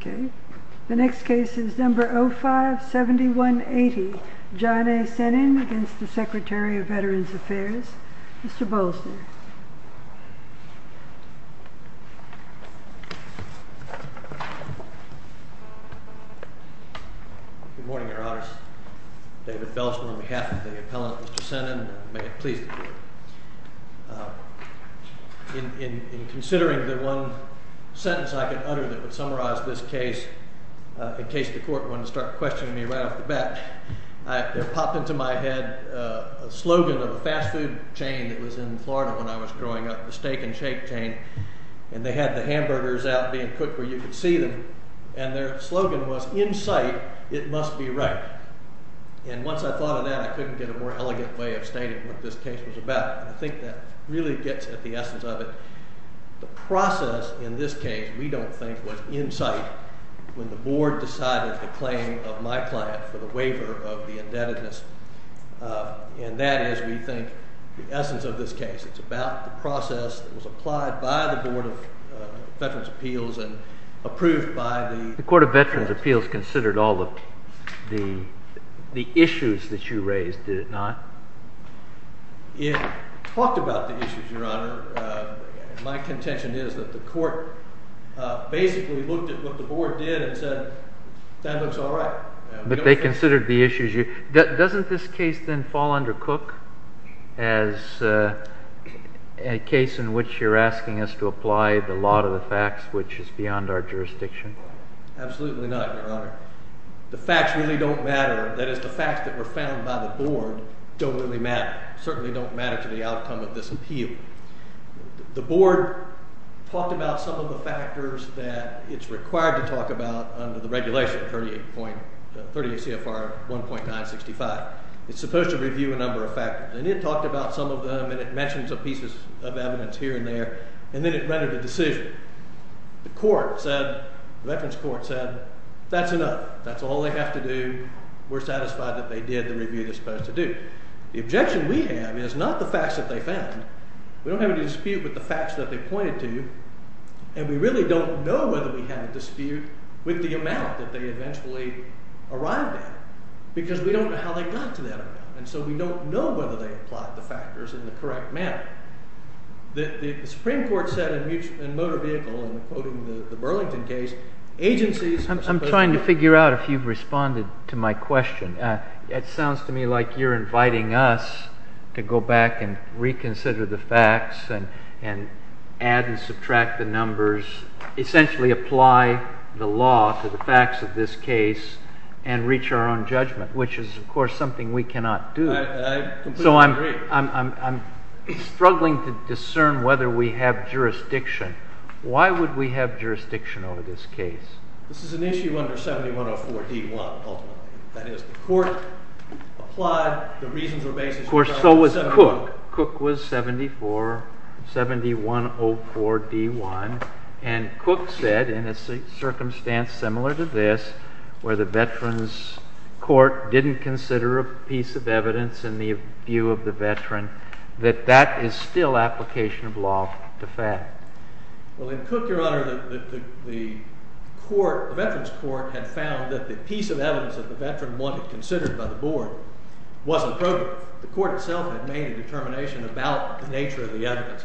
Okay, the next case is number 057180, John A. Sennin, against the Secretary of State of Veterans Affairs, Mr. Bolson. David Bolson Good morning, Your Honors. David Bolson on behalf of the appellant, Mr. Sennin, may it please the Court. In considering the one sentence I could utter that would summarize this case in case the case was about, and I think that really gets at the essence of it, the process in this case, we don't think, was in sight when the Board decided the claim of my client for the the essence of this case. It's about the process that was applied by the Board of Veterans' Appeals and approved by the- David Sennin The Court of Veterans' Appeals considered all of the issues that you raised, did it not? David Bolson It talked about the issues, Your Honor. My contention is that the Court basically looked at what the Board did and said, that looks all right. David Sennin But they considered the issues. Doesn't this case then fall under Cook as a case in which you're asking us to apply the law to the facts, which is beyond our jurisdiction? David Bolson Absolutely not, Your Honor. The facts really don't matter. That is, the facts that were found by the Board don't really matter, certainly don't matter to the outcome of this appeal. The Board talked about some of the factors that it's required to talk about under the It's supposed to review a number of factors. And it talked about some of them, and it mentions a piece of evidence here and there, and then it rendered a decision. The Court said, the Veterans' Court said, that's enough. That's all they have to do. We're satisfied that they did the review they're supposed to do. The objection we have is not the facts that they found. We don't have any dispute with the facts that they pointed to, and we really don't know whether we have a dispute with the amount that they eventually arrived at, because we don't know how they got to that amount. And so we don't know whether they applied the factors in the correct manner. The Supreme Court said in Motor Vehicle, in quoting the Burlington case, agencies are supposed to I'm trying to figure out if you've responded to my question. It sounds to me like you're inviting us to go back and reconsider the facts and add and reapply the law to the facts of this case and reach our own judgment, which is, of course, something we cannot do. I completely agree. So I'm struggling to discern whether we have jurisdiction. Why would we have jurisdiction over this case? This is an issue under 7104D1, ultimately. That is, the Court applied, the reasons were based on 7104D1. Of course, so was Cook. Cook was 7104D1. And Cook said, in a circumstance similar to this, where the Veterans Court didn't consider a piece of evidence in the view of the veteran, that that is still application of law to fact. Well, in Cook, Your Honor, the Veterans Court had found that the piece of evidence that the veteran wanted considered by the board wasn't appropriate. So the Court itself had made a determination about the nature of the evidence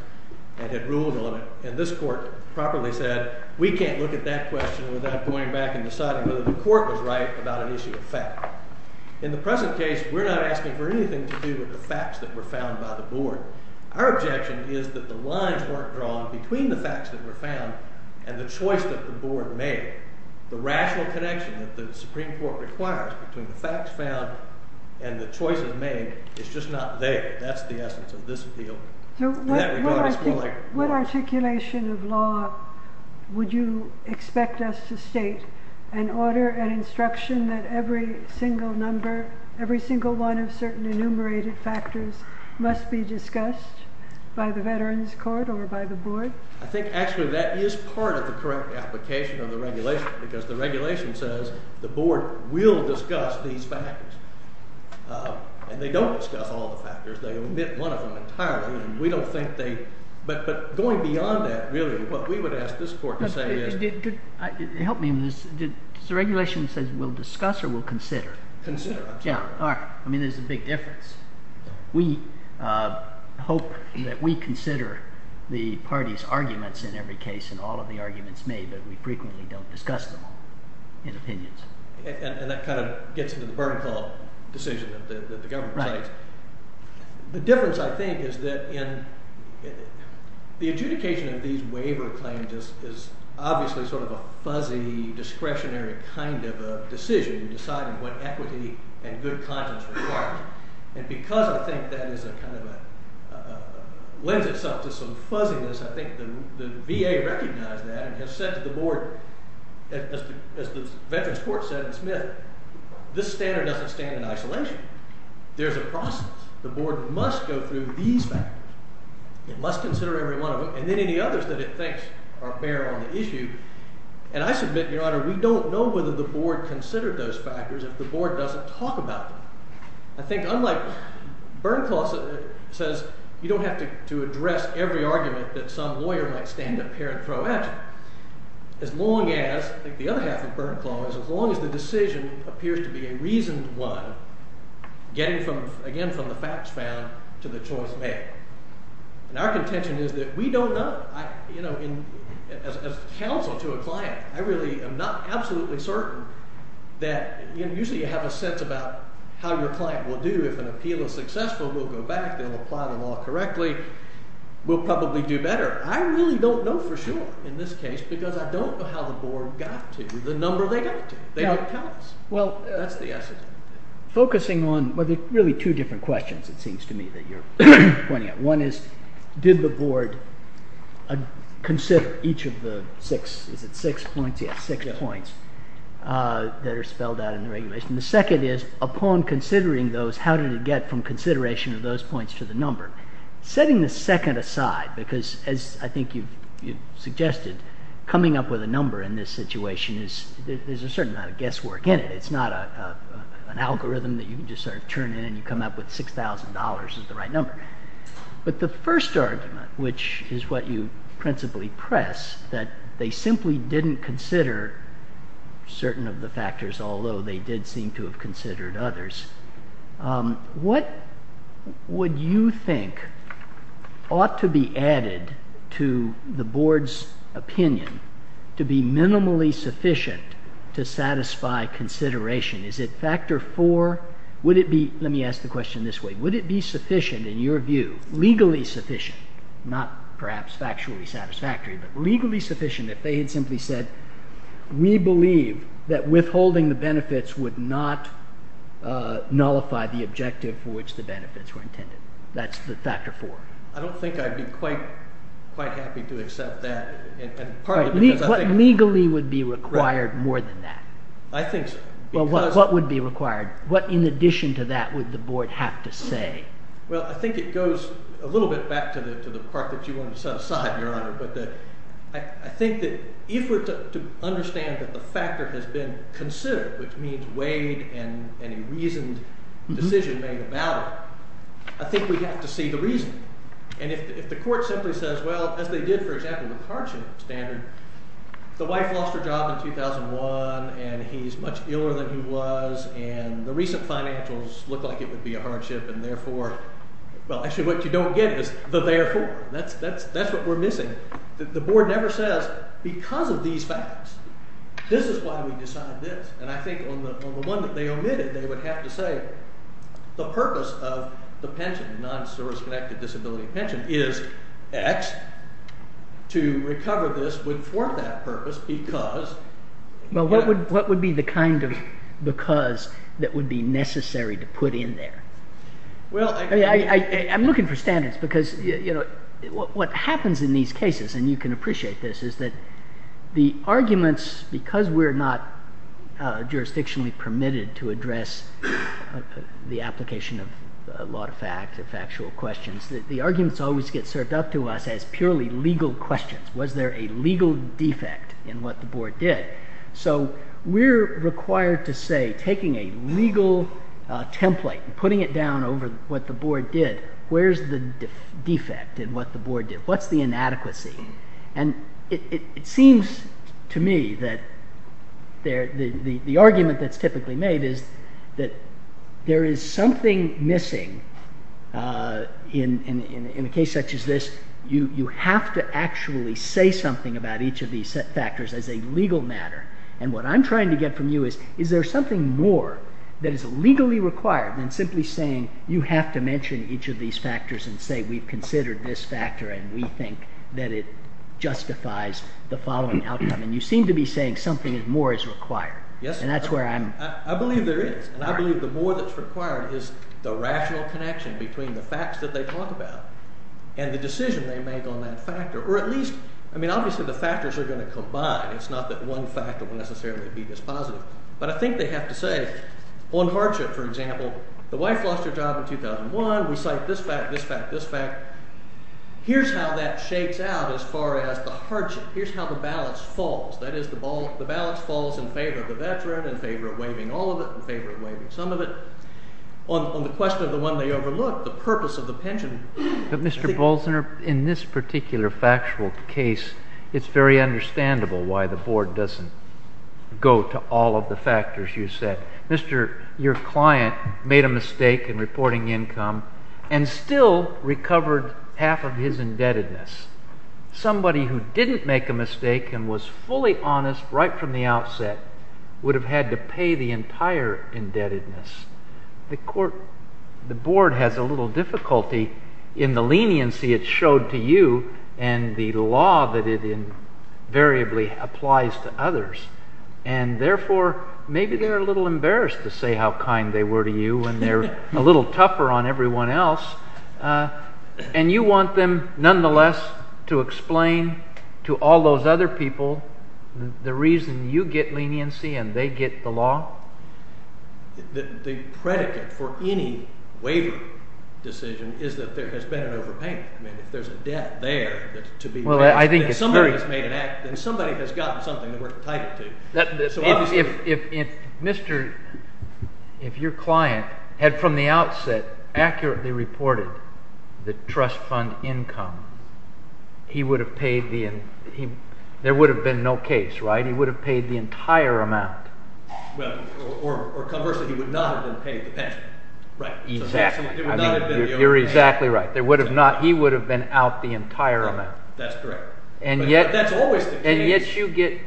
and had ruled on it. And this Court properly said, we can't look at that question without going back and deciding whether the Court was right about an issue of fact. In the present case, we're not asking for anything to do with the facts that were found by the board. Our objection is that the lines weren't drawn between the facts that were found and the choice that the board made. The rational connection that the Supreme Court requires between the facts found and the choices that the board has made is just not there. That's the essence of this appeal. So what articulation of law would you expect us to state? An order, an instruction that every single number, every single one of certain enumerated factors must be discussed by the Veterans Court or by the board? I think, actually, that is part of the correct application of the regulation. Because the regulation says the board will discuss these factors. And they don't discuss all the factors. They omit one of them entirely. But going beyond that, really, what we would ask this Court to say is— Help me on this. Does the regulation say we'll discuss or we'll consider? Consider. Yeah. All right. I mean, there's a big difference. We hope that we consider the parties' arguments in every case and all of the arguments made, but we frequently don't discuss them in opinions. And that kind of gets into the burn call decision that the government makes. Right. The difference, I think, is that the adjudication of these waiver claims is obviously sort of a fuzzy, discretionary kind of a decision in deciding what equity and good conscience require. And because I think that lends itself to some fuzziness, I think the VA recognized that and has said to the board, as the Veterans Court said in Smith, this standard doesn't stand in isolation. There's a process. The board must go through these factors. It must consider every one of them, and then any others that it thinks bear on the issue. And I submit, Your Honor, we don't know whether the board considered those factors if the board doesn't talk about them. I think, unlike—Burn Clause says you don't have to address every argument that some lawyer might stand up here and throw at you, as long as—I think the other half of Burn Clause— as long as the decision appears to be a reasoned one, getting, again, from the facts found to the choice made. And our contention is that we don't know. As counsel to a client, I really am not absolutely certain that—usually you have a sense about how your client will do. If an appeal is successful, we'll go back. They'll apply the law correctly. We'll probably do better. I really don't know for sure, in this case, because I don't know how the board got to the number they got to. They don't count. That's the essence of it. Focusing on—well, there are really two different questions, it seems to me, that you're pointing at. One is, did the board consider each of the six—is it six points? Yes, six points that are spelled out in the regulation. The second is, upon considering those, how did it get from consideration of those points to the number? Setting the second aside, because as I think you've suggested, coming up with a number in this situation is—there's a certain amount of guesswork in it. It's not an algorithm that you can just sort of turn in and you come up with $6,000 as the right number. But the first argument, which is what you principally press, that they simply didn't consider certain of the factors, although they did seem to have considered others, what would you think ought to be added to the board's opinion to be minimally sufficient to satisfy consideration? Is it factor four? Would it be—let me ask the question this way—would it be sufficient, in your view, legally sufficient, not perhaps factually satisfactory, but legally sufficient if they had simply said, we believe that withholding the benefits would not nullify the objective for which the benefits were intended? That's the factor four. I don't think I'd be quite happy to accept that. What legally would be required more than that? Well, what would be required? What, in addition to that, would the board have to say? Well, I think it goes a little bit back to the part that you wanted to set aside, Your Honor, that if we're to understand that the factor has been considered, which means weighed and a reasoned decision made about it, I think we have to see the reason. And if the court simply says, well, as they did, for example, with hardship standard, the wife lost her job in 2001, and he's much iller than he was, and the recent financials look like it would be a hardship, and therefore—well, actually, what you don't get is the therefore. That's what we're missing. The board never says, because of these facts, this is why we decided this. And I think on the one that they omitted, they would have to say the purpose of the pension, non-service-connected disability pension is X. To recover this would form that purpose because— Well, what would be the kind of because that would be necessary to put in there? Well, I'm looking for standards because what happens in these cases, and you can appreciate this, is that the arguments, because we're not jurisdictionally permitted to address the application of a lot of fact, of factual questions, the arguments always get served up to us as purely legal questions. Was there a legal defect in what the board did? So we're required to say, taking a legal template and putting it down over what the board did, where's the defect in what the board did? What's the inadequacy? And it seems to me that the argument that's typically made is that there is something missing in a case such as this. You have to actually say something about each of these factors as a legal matter. And what I'm trying to get from you is, is there something more that is legally required than simply saying you have to mention each of these factors and say we've considered this factor and we think that it justifies the following outcome. And you seem to be saying something more is required. Yes, sir. And that's where I'm— I believe there is, and I believe the more that's required is the rational connection between the facts that they talk about and the decision they make on that factor. Or at least, I mean, obviously the factors are going to combine. It's not that one factor will necessarily be dispositive. But I think they have to say, on hardship, for example, the wife lost her job in 2001. We cite this fact, this fact, this fact. Here's how that shakes out as far as the hardship. Here's how the balance falls. That is, the balance falls in favor of the veteran, in favor of waiving all of it, in favor of waiving some of it. On the question of the one they overlooked, the purpose of the pension— But, Mr. Bolzner, in this particular factual case, it's very understandable why the board doesn't go to all of the factors you said. Your client made a mistake in reporting income and still recovered half of his indebtedness. Somebody who didn't make a mistake and was fully honest right from the outset would have had to pay the entire indebtedness. The board has a little difficulty in the leniency it showed to you and the law that it invariably applies to others. And, therefore, maybe they're a little embarrassed to say how kind they were to you when they're a little tougher on everyone else. And you want them, nonetheless, to explain to all those other people the reason you get the law? The predicate for any waiver decision is that there has been an overpayment. I mean, if there's a debt there that's to be— Well, I think it's very— If somebody has made an act, then somebody has gotten something that we're entitled to. If your client had, from the outset, accurately reported the trust fund income, he would have paid the—there would have been no case, right? He would have paid the entire amount. Well, or conversely, he would not have been paid the pension. Right. Exactly. It would not have been the overpayment. You're exactly right. There would have not—he would have been out the entire amount. Right. That's correct. But that's always the case. And yet you get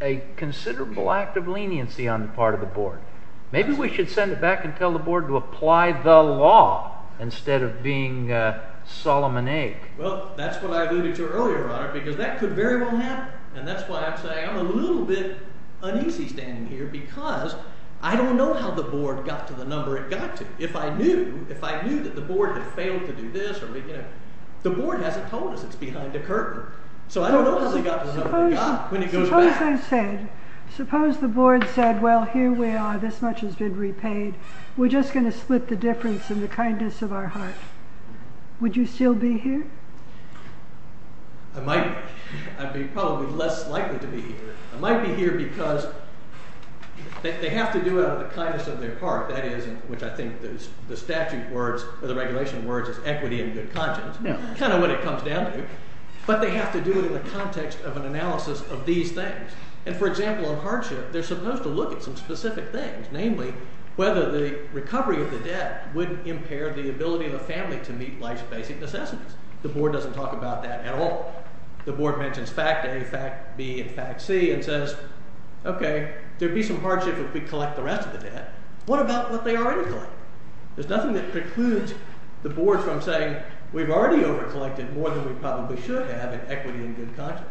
a considerable act of leniency on the part of the board. Maybe we should send it back and tell the board to apply the law instead of being Solomonaic. Well, that's what I alluded to earlier, Your Honor, because that could very well happen. And that's why I'm saying I'm a little bit uneasy standing here because I don't know how the board got to the number it got to. If I knew that the board had failed to do this or—the board hasn't told us it's behind a curtain. So I don't know how they got to the number they got when it goes back. Suppose I said—suppose the board said, well, here we are. This much has been repaid. We're just going to split the difference in the kindness of our heart. Would you still be here? I might be. I'd be probably less likely to be here. I might be here because they have to do it out of the kindness of their heart. That is, in which I think the statute words or the regulation words is equity and good conscience, kind of what it comes down to. But they have to do it in the context of an analysis of these things. And, for example, in hardship, they're supposed to look at some specific things, namely whether the recovery of the debt would impair the ability of the family to meet life's basic necessities. The board doesn't talk about that at all. The board mentions fact A, fact B, and fact C and says, OK, there'd be some hardship if we collect the rest of the debt. What about what they already collected? There's nothing that precludes the board from saying, we've already overcollected more than we probably should have in equity and good conscience.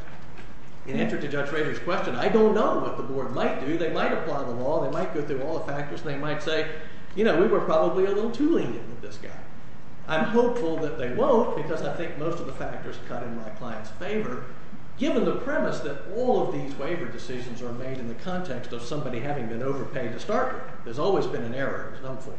In answer to Judge Rader's question, I don't know what the board might do. They might apply the law. They might go through all the factors. They might say, you know, we were probably a little too lenient with this guy. I'm hopeful that they won't, because I think most of the factors cut in my client's favor, given the premise that all of these waiver decisions are made in the context of somebody having been overpaid to start with. There's always been an error of some form.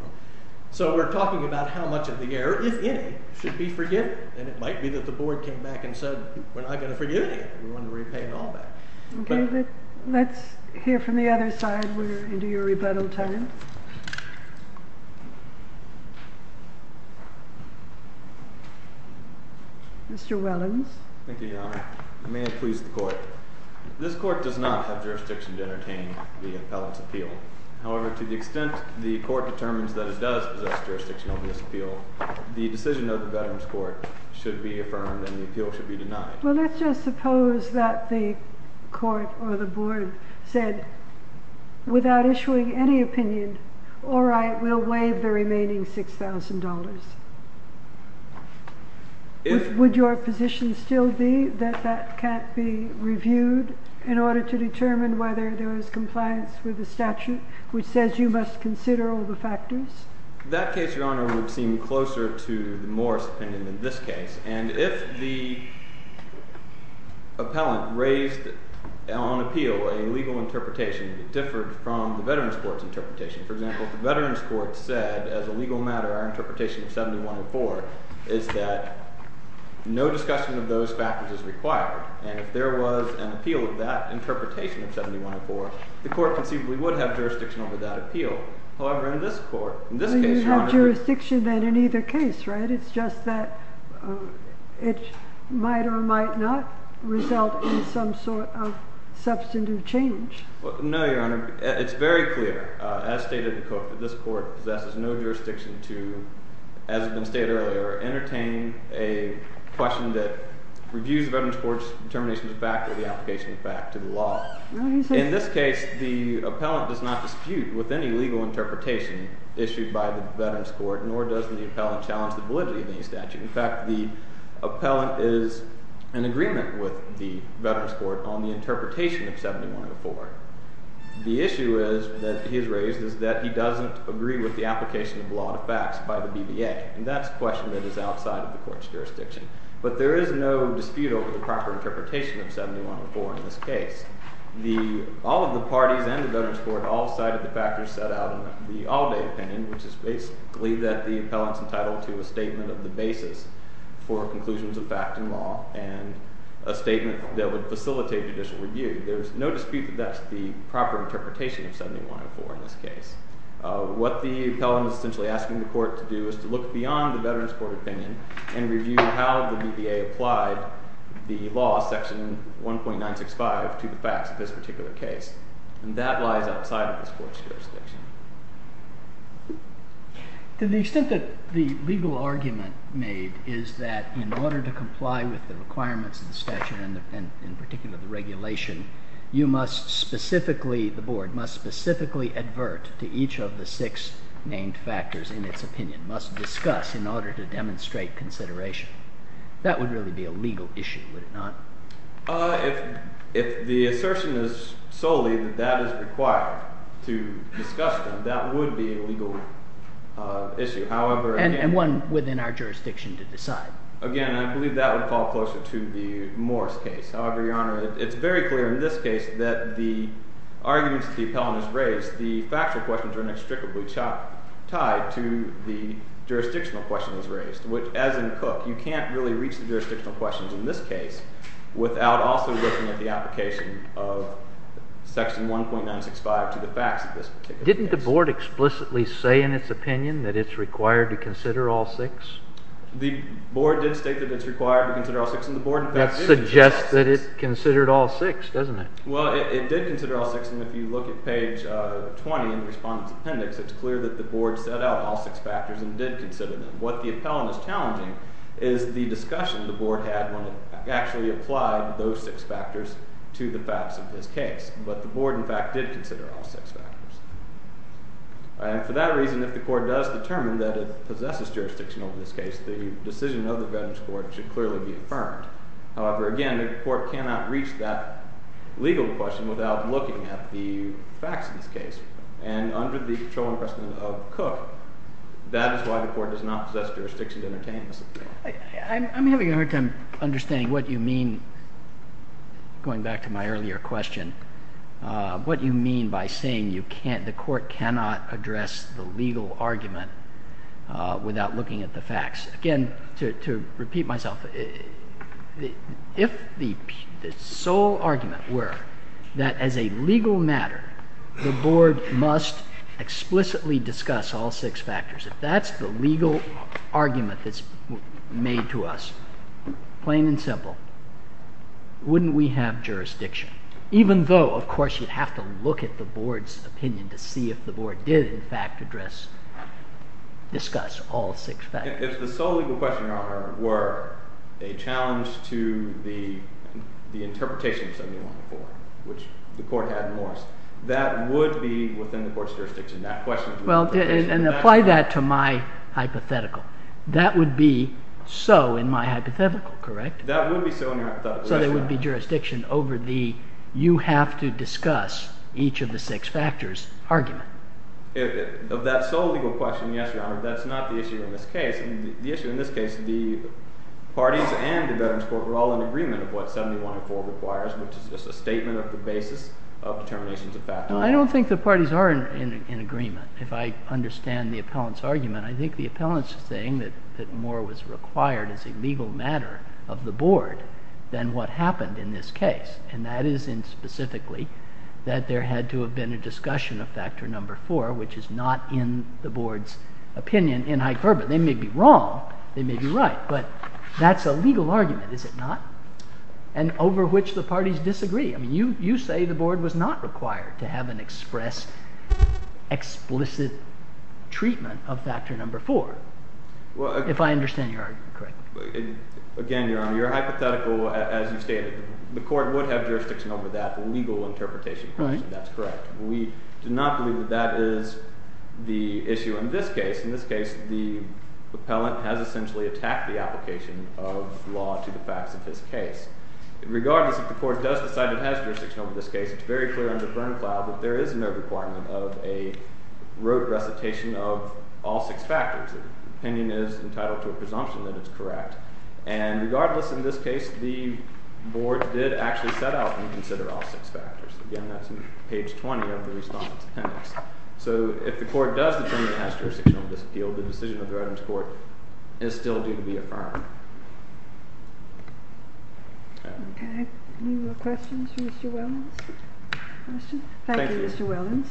So we're talking about how much of the error, if any, should be forgiven. And it might be that the board came back and said, we're not going to forgive you. We want to repay it all back. Let's hear from the other side. We're into your rebuttal time. Mr. Wellens. Thank you, Your Honor. May it please the court. This court does not have jurisdiction to entertain the appellant's appeal. However, to the extent the court determines that it does possess jurisdiction over this appeal, the decision of the Veterans Court should be affirmed and the appeal should be denied. Well, let's just suppose that the court or the board said, without issuing any opinion, all right, we'll waive the remaining $6,000. Would your position still be that that can't be reviewed in order to determine whether there is compliance with the statute which says you must consider all the factors? That case, Your Honor, would seem closer to the Morris opinion than this case. And if the appellant raised on appeal a legal interpretation that differed from the Veterans Court's interpretation, for example, if the Veterans Court said as a legal matter our interpretation of 7104 is that no discussion of those factors is required, and if there was an appeal of that interpretation of 7104, the court conceivably would have jurisdiction over that appeal. However, in this court, in this case, Your Honor, Well, you have jurisdiction then in either case, right? It's just that it might or might not result in some sort of substantive change. No, Your Honor. It's very clear. As stated, this court possesses no jurisdiction to, as has been stated earlier, entertain a question that reviews the Veterans Court's determination of fact or the application of fact to the law. In this case, the appellant does not dispute with any legal interpretation issued by the Veterans Court, nor does the appellant challenge the validity of any statute. In fact, the appellant is in agreement with the Veterans Court on the interpretation of 7104. The issue that he has raised is that he doesn't agree with the application of law to facts by the BVA, and that's a question that is outside of the court's jurisdiction. But there is no dispute over the proper interpretation of 7104 in this case. All of the parties and the Veterans Court all cited the factors set out in the all-day opinion, which is basically that the appellant's entitled to a statement of the basis for conclusions of fact and law and a statement that would facilitate judicial review. There's no dispute that that's the proper interpretation of 7104 in this case. What the appellant is essentially asking the court to do is to look beyond the Veterans Court opinion and review how the BVA applied the law, section 1.965, to the facts of this particular case, and that lies outside of this court's jurisdiction. To the extent that the legal argument made is that in order to comply with the requirements of the statute and in particular the regulation, you must specifically, the board must specifically advert to each of the six named factors in its opinion, must discuss in order to demonstrate consideration. That would really be a legal issue, would it not? If the assertion is solely that that is required to discuss them, that would be a legal issue. And one within our jurisdiction to decide. Again, I believe that would fall closer to the Morris case. However, Your Honor, it's very clear in this case that the arguments the appellant has raised, the factual questions are inextricably tied to the jurisdictional questions raised, which as in Cook, you can't really reach the jurisdictional questions in this case without also looking at the application of section 1.965 to the facts of this particular case. Didn't the board explicitly say in its opinion that it's required to consider all six? The board did state that it's required to consider all six, and the board in fact did. That suggests that it considered all six, doesn't it? Well, it did consider all six, and if you look at page 20 in the respondent's appendix, it's clear that the board set out all six factors and did consider them. What the appellant is challenging is the discussion the board had when it actually applied those six factors to the facts of this case. But the board in fact did consider all six factors. And for that reason, if the court does determine that it possesses jurisdiction over this case, the decision of the Veterans Court should clearly be affirmed. However, again, the court cannot reach that legal question without looking at the facts of this case. And under the controlling precedent of Cook, that is why the court does not possess jurisdiction to entertain this opinion. I'm having a hard time understanding what you mean, going back to my earlier question, what you mean by saying the court cannot address the legal argument without looking at the facts. Again, to repeat myself, if the sole argument were that as a legal matter, the board must explicitly discuss all six factors, if that's the legal argument that's made to us, plain and simple, wouldn't we have jurisdiction? Even though, of course, you'd have to look at the board's opinion to see if the board did in fact discuss all six factors. If the sole legal question, Your Honor, were a challenge to the interpretation of 71-4, which the court had in Morris, that would be within the court's jurisdiction. And apply that to my hypothetical. That would be so in my hypothetical, correct? That would be so in your hypothetical. So there would be jurisdiction over the you have to discuss each of the six factors argument. Of that sole legal question, yes, Your Honor. That's not the issue in this case. The issue in this case, the parties and the Veterans Court were all in agreement of what 71-4 requires, which is just a statement of the basis of determinations of factors. I don't think the parties are in agreement. If I understand the appellant's argument, I think the appellant's saying that more was required as a legal matter of the board than what happened in this case. And that is in specifically that there had to have been a discussion of factor number four, which is not in the board's opinion in hyperbole. They may be wrong. They may be right. But that's a legal argument, is it not? And over which the parties disagree. I mean you say the board was not required to have an express explicit treatment of factor number four. If I understand your argument correctly. Again, Your Honor, your hypothetical, as you stated, the court would have jurisdiction over that legal interpretation. That's correct. We do not believe that that is the issue in this case. In this case, the appellant has essentially attacked the application of law to the facts of his case. Regardless, if the court does decide it has jurisdiction over this case, it's very clear under Bernklau that there is no requirement of a rote recitation of all six factors. The opinion is entitled to a presumption that it's correct. And regardless, in this case, the board did actually set out and consider all six factors. Again, that's on page 20 of the response. So if the court does determine it has jurisdiction over this appeal, the decision of the Reddams Court is still due to be affirmed. Okay. Any more questions for Mr. Wellens? Thank you, Mr. Wellens.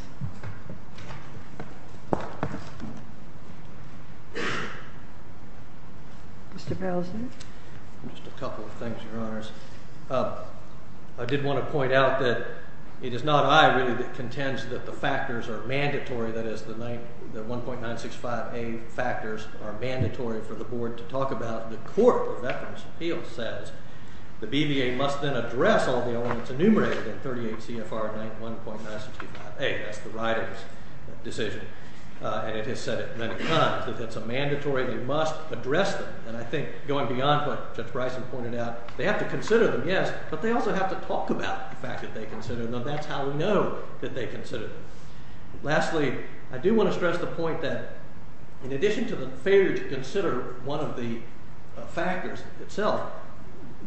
Mr. Berlesen? Just a couple of things, Your Honors. I did want to point out that it is not I, really, that contends that the factors are mandatory. That is, the 1.965a factors are mandatory for the board to talk about. The Court of Veterans' Appeals says the BVA must then address all the elements enumerated in 38 CFR 1.965a. That's the Reddams decision. And it has said at many times that it's a mandatory and you must address them. And I think going beyond what Judge Bryson pointed out, they have to consider them, yes, but they also have to talk about the fact that they consider them. That's how we know that they consider them. Lastly, I do want to stress the point that in addition to the failure to consider one of the factors itself,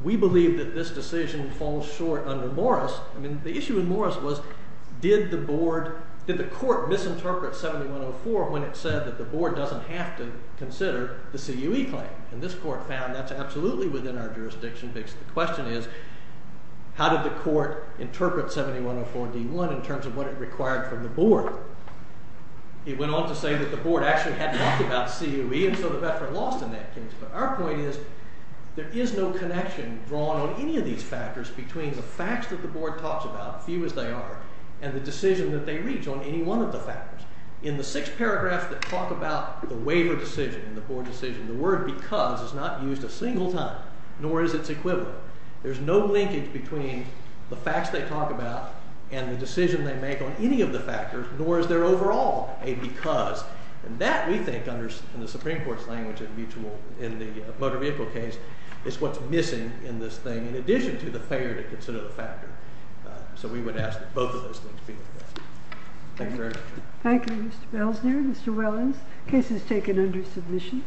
we believe that this decision falls short under Morris. I mean, the issue in Morris was did the board, did the court misinterpret 7104 when it said that the board doesn't have to consider the CUE claim? And this court found that's absolutely within our jurisdiction because the question is how did the court interpret 7104d.1 in terms of what it required from the board? It went on to say that the board actually had talked about CUE and so the veteran lost in that case. But our point is there is no connection drawn on any of these factors between the facts that the board talks about, few as they are, and the decision that they reach on any one of the factors. In the six paragraphs that talk about the waiver decision, the board decision, the word because is not used a single time, nor is its equivalent. There's no linkage between the facts they talk about and the decision they make on any of the factors, nor is there overall a because. And that, we think, in the Supreme Court's language in the motor vehicle case, is what's missing in this thing in addition to the failure to consider the factor. So we would ask that both of those things be addressed. Thank you very much. Thank you, Mr. Belzner. Mr. Wellens, case is taken under submission.